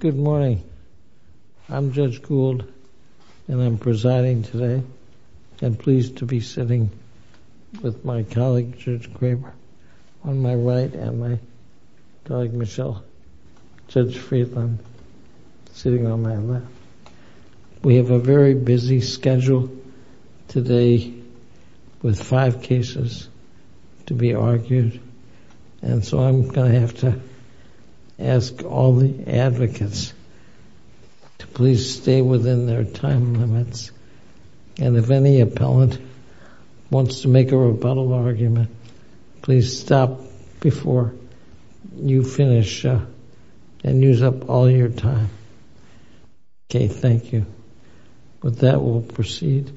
Good morning. I'm Judge Gould, and I'm presiding today. I'm pleased to be sitting with my colleague, Judge Kramer, on my right, and my colleague, Michelle, Judge Friedland, sitting on my left. We have a very busy schedule today with five cases to be argued. And so I'm going to have to ask all the advocates to please stay within their time limits. And if any appellant wants to make a rebuttal argument, please stop before you finish and use up all your time. Okay, thank you. With that, we'll proceed.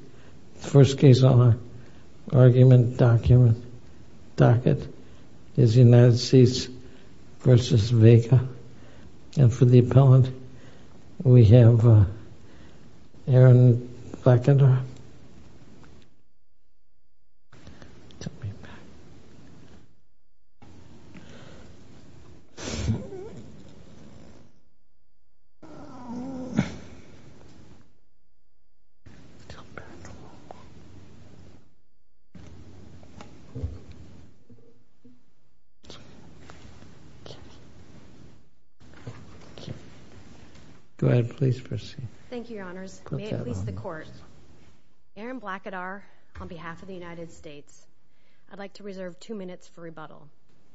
The first case on our argument docket is the United States v. Vega. And for the appellant, we have Erin Blackender. Thank you, Your Honors. May it please the Court, Erin Blackender, on behalf of the United States, I'd like to reserve two minutes for rebuttal.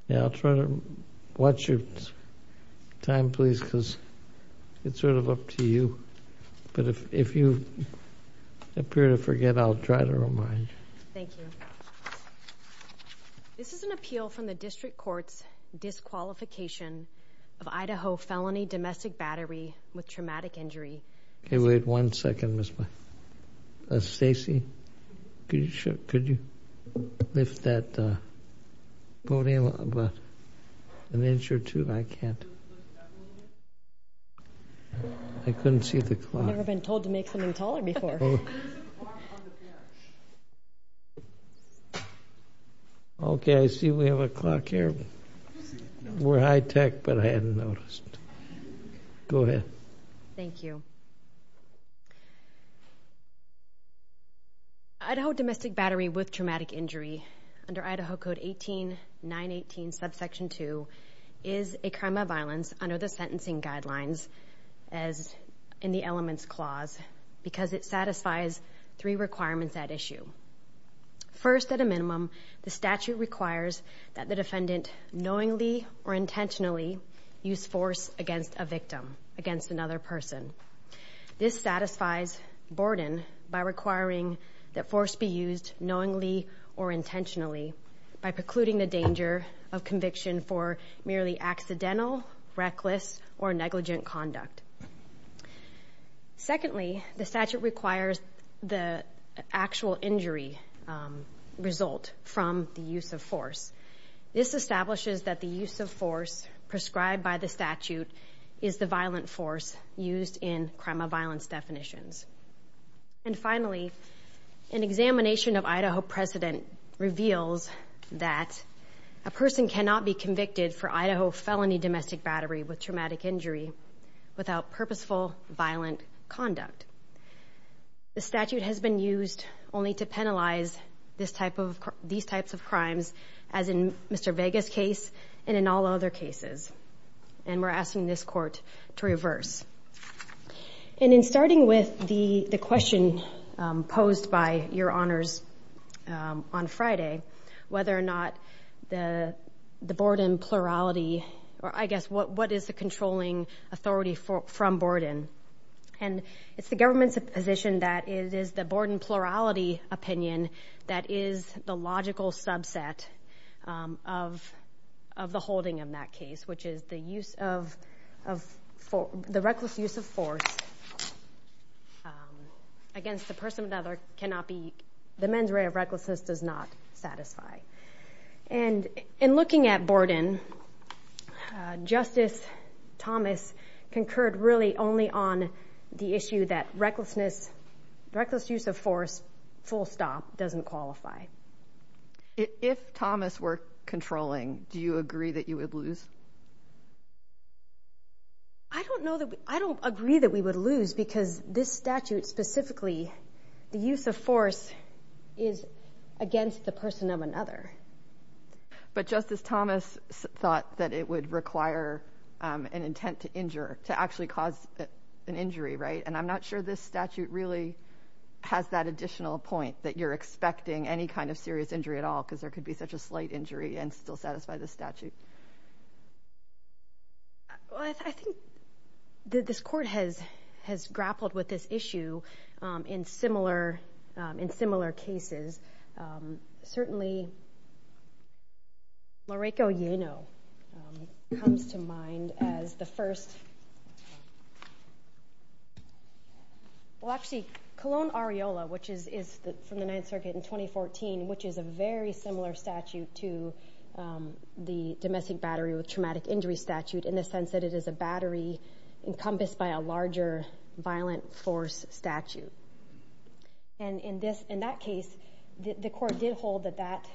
Yeah, I'll try to watch your time, please, because it's sort of up to you. But if you appear to forget, I'll try to remind you. Thank you. This is an appeal from the District Court's disqualification of Idaho felony domestic battery with traumatic injury. Okay, wait one second, Ms. Black. Stacey, could you lift that podium about an inch or two? I can't. I couldn't see the clock. I've never been told to make something taller before. Okay, I see we have a clock here. We're high tech, but I hadn't noticed. Go ahead. Thank you. Idaho domestic battery with traumatic injury under Idaho Code 18, 918, subsection 2 is a crime of violence under the sentencing guidelines as in the elements clause because it satisfies three requirements at issue. First, at a minimum, the statute requires that the defendant knowingly or intentionally use force against a victim, against another person. This satisfies burden by requiring that force be used knowingly or intentionally by precluding the danger of conviction for merely accidental, reckless, or negligent conduct. Secondly, the statute requires the actual injury result from the use of force. This establishes that the use of force prescribed by the statute is the violent force used in crime of violence definitions. And finally, an examination of Idaho precedent reveals that a person cannot be convicted for Idaho felony domestic battery with traumatic injury without purposeful violent conduct. The statute has been used only to penalize these types of crimes as in Mr. Vega's case and in all other cases, and we're asking this court to reverse. And in starting with the question posed by your honors on Friday, whether or not the Borden plurality, or I guess what is the controlling authority from Borden? And it's the government's position that it is the Borden plurality opinion that is the logical subset of the holding of that case, which is the use of, the reckless use of force against a person that cannot be, the mens rea of recklessness does not satisfy. And in looking at Borden, Justice Thomas concurred really only on the issue that recklessness, reckless use of force, full stop, doesn't qualify. If Thomas were controlling, do you agree that you would lose? I don't know that I don't agree that we would lose because this statute specifically, the use of force is against the person of another. But Justice Thomas thought that it would require an intent to injure to actually cause an injury. Right. And I'm not sure this statute really has that additional point that you're expecting any kind of serious injury at all, because there could be such a slight injury and still satisfy the statute. I think that this court has grappled with this issue in similar cases. Certainly, Mariko Yano comes to mind as the first. Well, actually, Colon Areola, which is from the Ninth Circuit in 2014, which is a very similar statute to the domestic battery with traumatic injury statute in the sense that it is a battery encompassed by a larger violent force statute. And in this in that case, the court did hold that that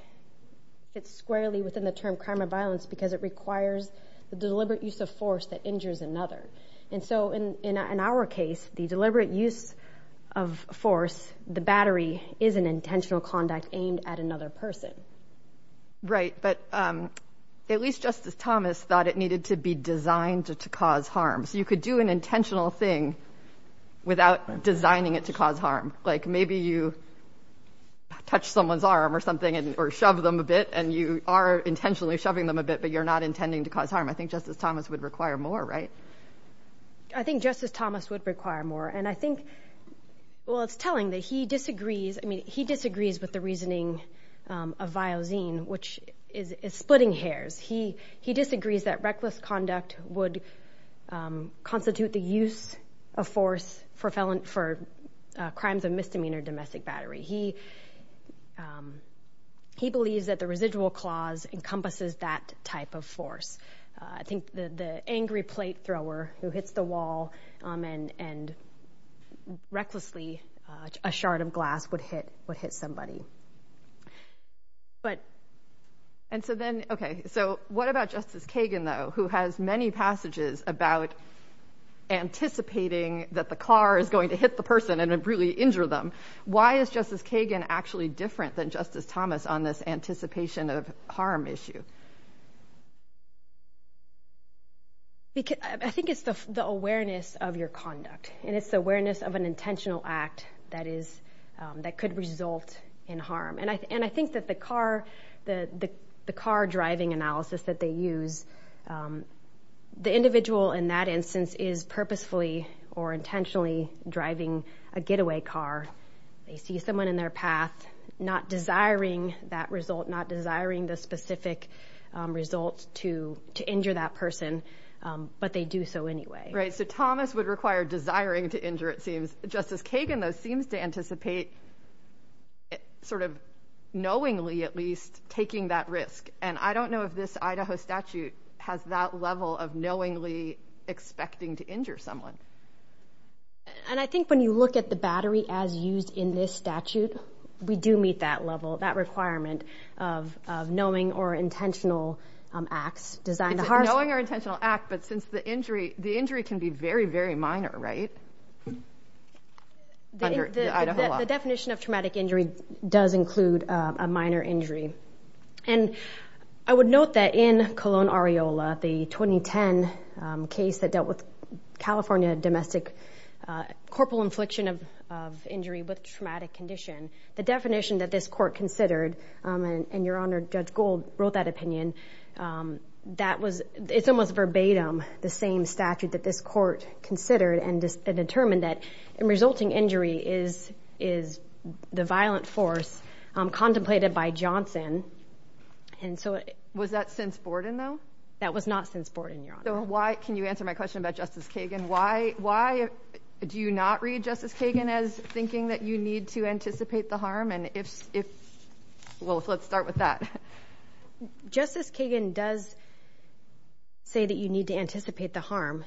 fits squarely within the term crime of violence because it requires the deliberate use of force that injures another. And so in our case, the deliberate use of force, the battery is an intentional conduct aimed at another person. Right. But at least Justice Thomas thought it needed to be designed to cause harm so you could do an intentional thing without designing it to cause harm. Like maybe you touch someone's arm or something or shove them a bit and you are intentionally shoving them a bit, but you're not intending to cause harm. I think Justice Thomas would require more. Right. I think Justice Thomas would require more. And I think, well, it's telling that he disagrees. I mean, he disagrees with the reasoning of Viozine, which is splitting hairs. He he disagrees that reckless conduct would constitute the use of force for felon for crimes of misdemeanor domestic battery. He he believes that the residual clause encompasses that type of force. I think the angry plate thrower who hits the wall and and recklessly a shard of glass would hit would hit somebody. But and so then. OK, so what about Justice Kagan, though, who has many passages about anticipating that the car is going to hit the person and really injure them? Why is Justice Kagan actually different than Justice Thomas on this anticipation of harm issue? Because I think it's the awareness of your conduct and it's the awareness of an intentional act that is that could result in harm. And I and I think that the car, the car driving analysis that they use, the individual in that instance is purposefully or intentionally driving a getaway car. They see someone in their path not desiring that result, not desiring the specific results to to injure that person. But they do so anyway. Right. So Thomas would require desiring to injure. It seems Justice Kagan, though, seems to anticipate. Sort of knowingly, at least taking that risk. And I don't know if this Idaho statute has that level of knowingly expecting to injure someone. And I think when you look at the battery as used in this statute, we do meet that level, that requirement of knowing or intentional acts designed. Knowing or intentional act. But since the injury, the injury can be very, very minor. Right. The definition of traumatic injury does include a minor injury. And I would note that in Cologne, Areola, the 2010 case that dealt with California domestic corporal infliction of injury with traumatic condition. The definition that this court considered. And your honor, Judge Gold wrote that opinion. That was it's almost verbatim, the same statute that this court considered and determined that resulting injury is is the violent force contemplated by Johnson. And so it was that since Borden, though, that was not since Borden. So why can you answer my question about Justice Kagan? Why why do you not read Justice Kagan as thinking that you need to anticipate the harm? And if if well, let's start with that. Justice Kagan does. Say that you need to anticipate the harm,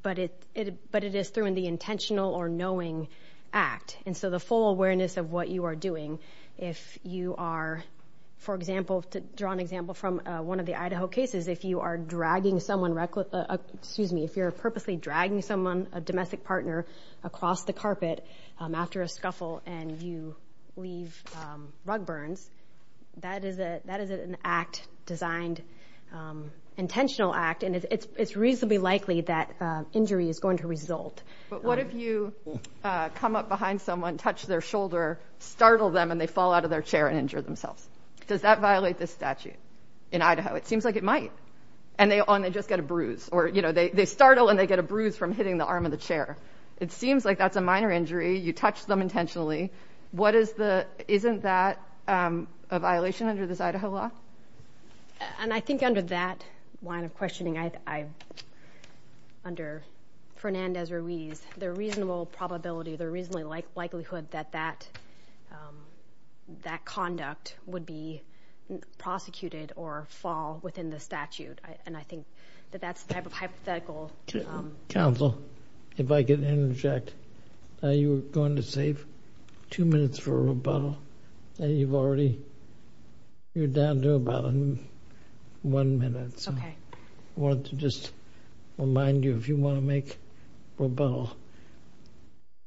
but it but it is through in the intentional or knowing act. And so the full awareness of what you are doing, if you are, for example, to draw an example from one of the Idaho cases, if you are dragging someone, excuse me, if you're purposely dragging someone, a domestic partner across the carpet after a scuffle and you leave rug burns. That is a that is an act designed intentional act. And it's reasonably likely that injury is going to result. But what if you come up behind someone, touch their shoulder, startle them and they fall out of their chair and injure themselves? Does that violate the statute in Idaho? It seems like it might. And they only just get a bruise or, you know, they startle and they get a bruise from hitting the arm of the chair. It seems like that's a minor injury. You touch them intentionally. What is the isn't that a violation under this Idaho law? And I think under that line of questioning, I under Fernandez Ruiz, the reasonable probability, the reasonably likelihood that that that conduct would be prosecuted or fall within the statute. And I think that that's the type of hypothetical. Counsel, if I could interject, you were going to save two minutes for a rebuttal. You've already you're down to about one minute. So I want to just remind you, if you want to make a rebuttal,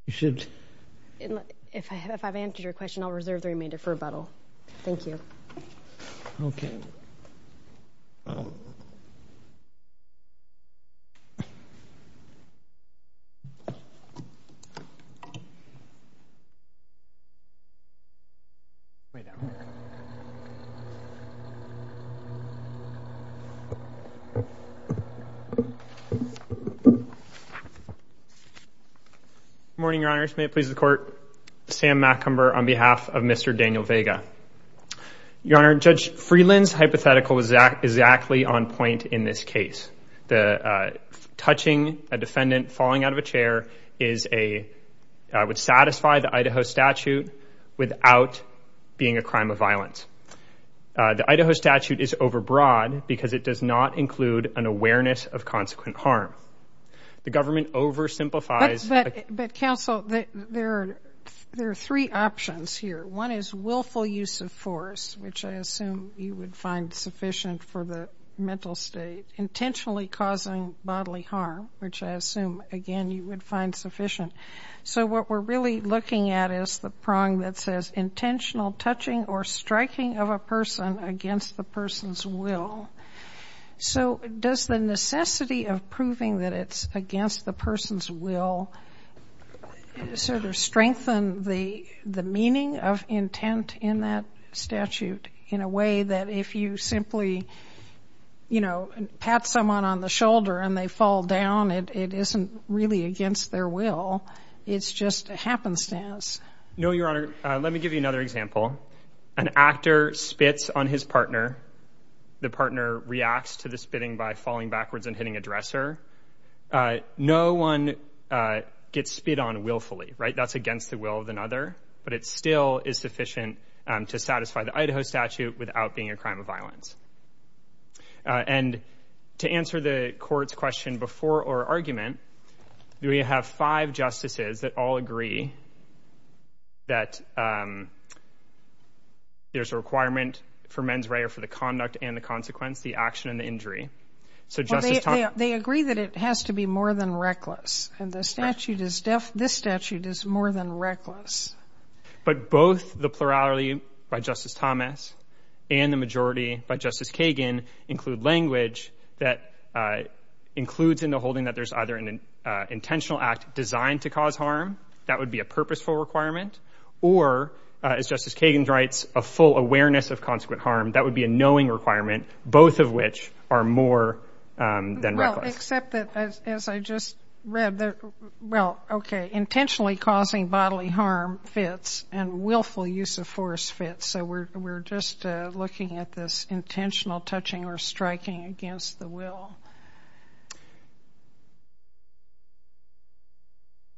you should. If I have if I've answered your question, I'll reserve the remainder for a battle. Thank you. OK. All right. Morning, Your Honor. May it please the court. Sam Macomber on behalf of Mr. Daniel Vega. Your Honor, Judge Freeland's hypothetical is exactly on point in this case. The touching a defendant falling out of a chair is a would satisfy the Idaho statute without being a crime of violence. The Idaho statute is overbroad because it does not include an awareness of consequent harm. The government oversimplifies. But counsel, there are three options here. One is willful use of force, which I assume you would find sufficient for the mental state. Intentionally causing bodily harm, which I assume, again, you would find sufficient. So what we're really looking at is the prong that says intentional touching or striking of a person against the person's will. So does the necessity of proving that it's against the person's will sort of strengthen the the meaning of intent in that statute in a way that if you simply, you know, pat someone on the shoulder and they fall down, it isn't really against their will. It's just a happenstance. No, Your Honor. Let me give you another example. An actor spits on his partner. The partner reacts to the spitting by falling backwards and hitting a dresser. No one gets spit on willfully. Right. That's against the will of another. But it still is sufficient to satisfy the Idaho statute without being a crime of violence. And to answer the court's question before or argument, we have five justices that all agree that there's a requirement for mens rea for the conduct and the consequence, the action and the injury. So they agree that it has to be more than reckless. And the statute is deaf. This statute is more than reckless. But both the plurality by Justice Thomas and the majority by Justice Kagan include language that includes in the holding that there's either an intentional act designed to cause harm. That would be a purposeful requirement. Or, as Justice Kagan writes, a full awareness of consequent harm. That would be a knowing requirement, both of which are more than reckless. Except that, as I just read, well, okay, intentionally causing bodily harm fits and willful use of force fits. So we're just looking at this intentional touching or striking against the will.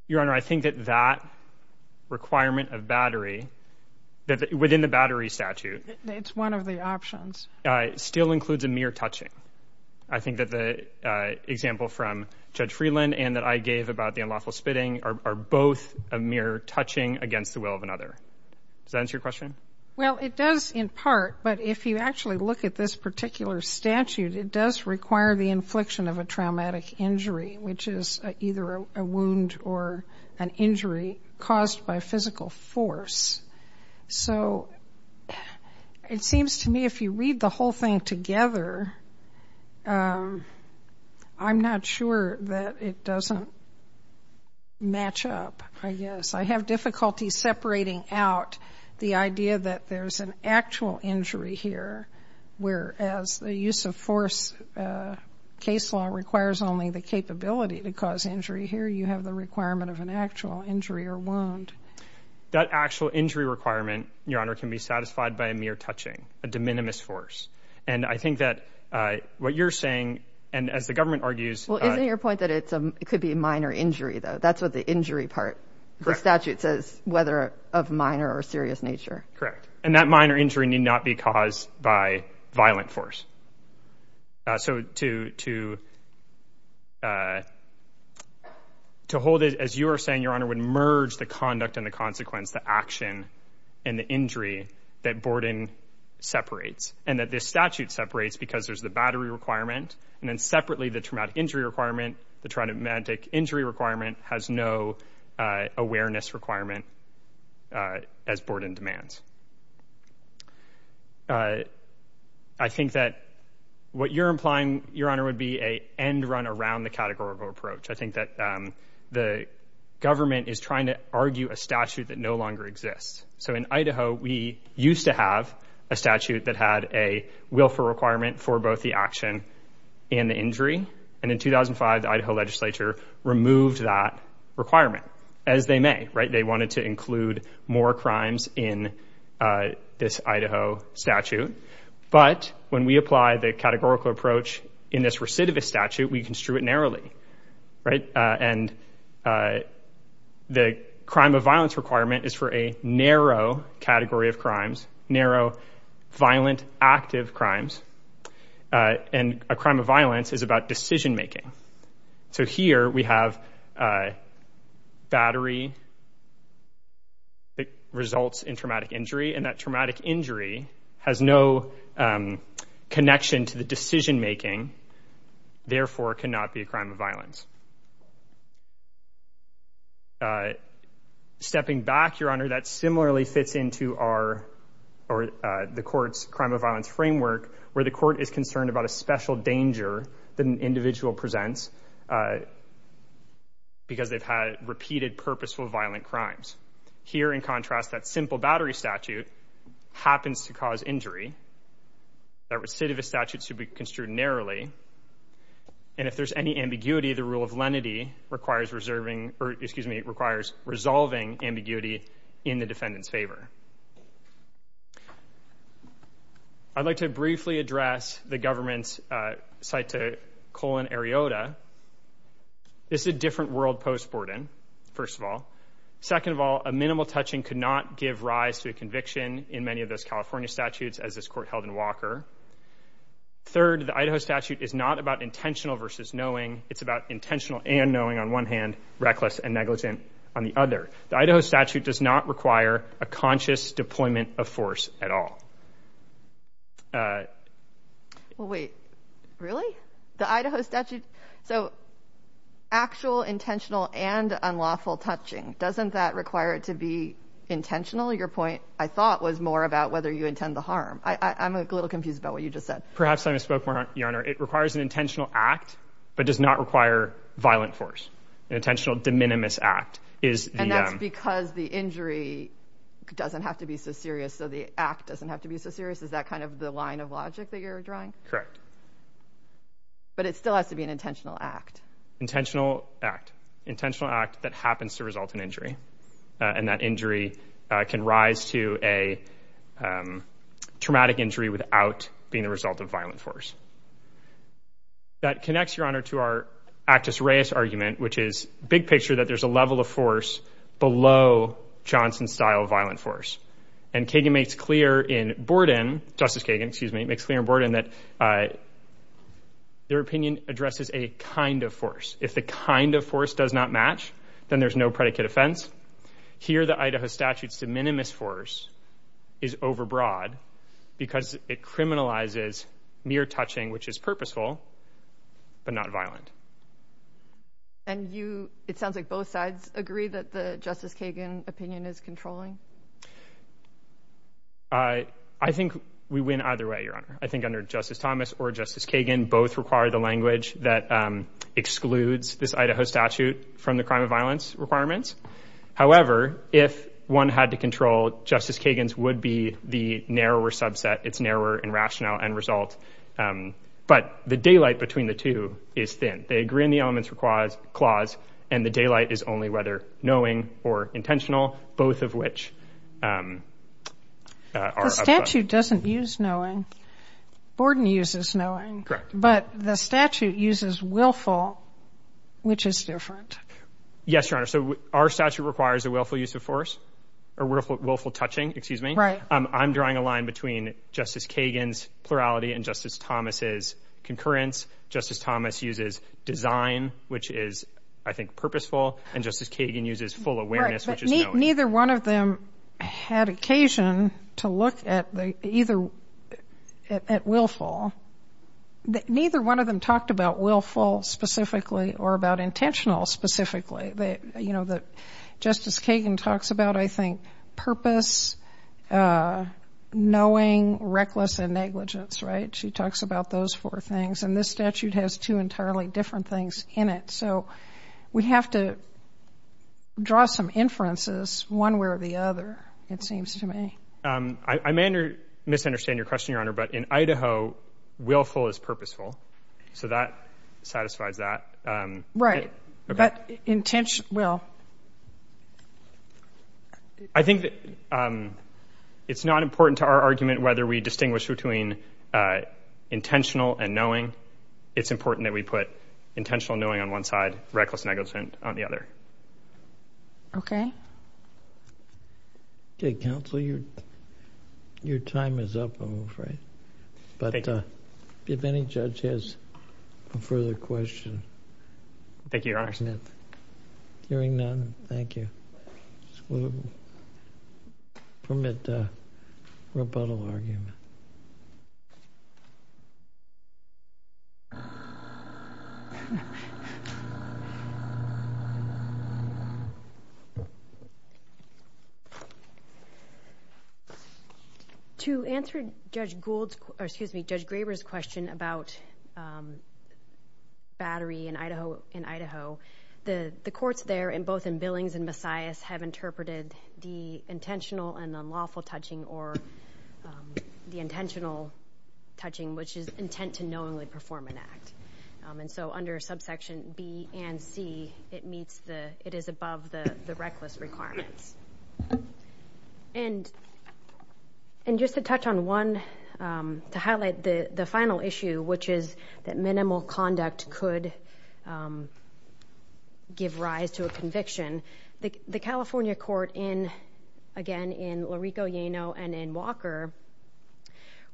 Your Honor, I think that that requirement of battery, within the battery statute. It's one of the options. Still includes a mere touching. I think that the example from Judge Freeland and that I gave about the unlawful spitting are both a mere touching against the will of another. Does that answer your question? Well, it does in part. But if you actually look at this particular statute, it does require the infliction of a traumatic injury, which is either a wound or an injury caused by physical force. So it seems to me if you read the whole thing together, I'm not sure that it doesn't match up, I guess. I have difficulty separating out the idea that there's an actual injury here, whereas the use of force case law requires only the capability to cause injury. Here you have the requirement of an actual injury or wound. That actual injury requirement, Your Honor, can be satisfied by a mere touching, a de minimis force. And I think that what you're saying, and as the government argues. Well, isn't your point that it could be a minor injury, though? That's what the injury part of the statute says, whether of minor or serious nature. Correct. And that minor injury need not be caused by violent force. So to hold it, as you are saying, Your Honor, would merge the conduct and the consequence, the action and the injury that Borden separates. And that this statute separates because there's the battery requirement and then separately the traumatic injury requirement. The traumatic injury requirement has no awareness requirement as Borden demands. I think that what you're implying, Your Honor, would be a end run around the categorical approach. I think that the government is trying to argue a statute that no longer exists. So in Idaho, we used to have a statute that had a willful requirement for both the action and the injury. And in 2005, the Idaho legislature removed that requirement, as they may. They wanted to include more crimes in this Idaho statute. But when we apply the categorical approach in this recidivist statute, we construe it narrowly. And the crime of violence requirement is for a narrow category of crimes, narrow, violent, active crimes. And a crime of violence is about decision making. So here we have battery that results in traumatic injury. And that traumatic injury has no connection to the decision making, therefore cannot be a crime of violence. Stepping back, Your Honor, that similarly fits into the court's crime of violence framework, where the court is concerned about a special danger that an individual presents because they've had repeated purposeful violent crimes. Here, in contrast, that simple battery statute happens to cause injury. That recidivist statute should be construed narrowly. And if there's any ambiguity, the rule of lenity requires reserving or, excuse me, requires resolving ambiguity in the defendant's favor. I'd like to briefly address the government's cita-colon-eriota. This is a different world post-Borden, first of all. Second of all, a minimal touching could not give rise to a conviction in many of those California statutes, as this court held in Walker. Third, the Idaho statute is not about intentional versus knowing. It's about intentional and knowing on one hand, reckless and negligent on the other. The Idaho statute does not require a conscious deployment of force at all. Well, wait, really? The Idaho statute? So actual, intentional, and unlawful touching, doesn't that require it to be intentional? Your point, I thought, was more about whether you intend the harm. I'm a little confused about what you just said. Perhaps I misspoke, Your Honor. It requires an intentional act, but does not require violent force. An intentional de minimis act is the- And that's because the injury doesn't have to be so serious, so the act doesn't have to be so serious? Is that kind of the line of logic that you're drawing? Correct. But it still has to be an intentional act. Intentional act. Intentional act that happens to result in injury. And that injury can rise to a traumatic injury without being the result of violent force. That connects, Your Honor, to our actus reus argument, which is big picture that there's a level of force below Johnson-style violent force. And Kagan makes clear in Borden, Justice Kagan, excuse me, makes clear in Borden that their opinion addresses a kind of force. If the kind of force does not match, then there's no predicate offense. Here, the Idaho statute's de minimis force is overbroad because it criminalizes mere touching, which is purposeful, but not violent. And it sounds like both sides agree that the Justice Kagan opinion is controlling? I think under Justice Thomas or Justice Kagan, both require the language that excludes this Idaho statute from the crime of violence requirements. However, if one had to control, Justice Kagan's would be the narrower subset. It's narrower in rationale and result. But the daylight between the two is thin. They agree on the elements clause, and the daylight is only whether knowing or intentional, both of which are. The statute doesn't use knowing. Borden uses knowing. Correct. But the statute uses willful, which is different. Yes, Your Honor. So our statute requires a willful use of force or willful touching, excuse me. Right. I'm drawing a line between Justice Kagan's plurality and Justice Thomas's concurrence. Justice Thomas uses design, which is, I think, purposeful, and Justice Kagan uses full awareness, which is knowing. Neither one of them had occasion to look at willful. Neither one of them talked about willful specifically or about intentional specifically. You know, Justice Kagan talks about, I think, purpose, knowing, reckless, and negligence, right? She talks about those four things. And this statute has two entirely different things in it. So we have to draw some inferences one way or the other, it seems to me. I may misunderstand your question, Your Honor, but in Idaho, willful is purposeful. So that satisfies that. Right. But intentional. I think it's not important to our argument whether we distinguish between intentional and knowing. It's important that we put intentional knowing on one side, reckless negligence on the other. Okay. Okay, counsel, your time is up, I'm afraid. Thank you. But if any judge has a further question. Thank you, Your Honor. Hearing none, thank you. We'll permit rebuttal argument. To answer Judge Graber's question about battery in Idaho, the courts there, both in Billings and Messiahs, have interpreted the intentional and unlawful touching or the intentional touching, which is intent to knowingly perform an act. And so under subsection B and C, it is above the reckless requirements. And just to touch on one, to highlight the final issue, which is that minimal conduct could give rise to a conviction, the California court in, again, in Larico, Yano, and in Walker,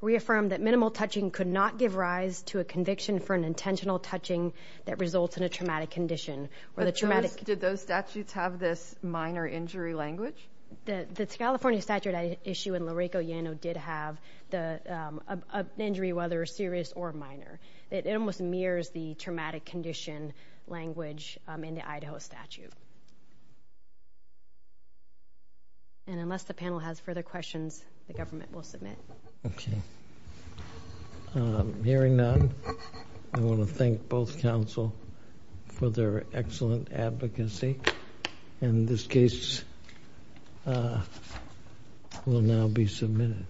reaffirmed that minimal touching could not give rise to a conviction for an intentional touching that results in a traumatic condition. Did those statutes have this minor injury language? The California statute issue in Larico, Yano, did have the injury, whether serious or minor. It almost mirrors the traumatic condition language in the Idaho statute. And unless the panel has further questions, the government will submit. Okay. Hearing none, I want to thank both counsel for their excellent advocacy. And this case will now be submitted.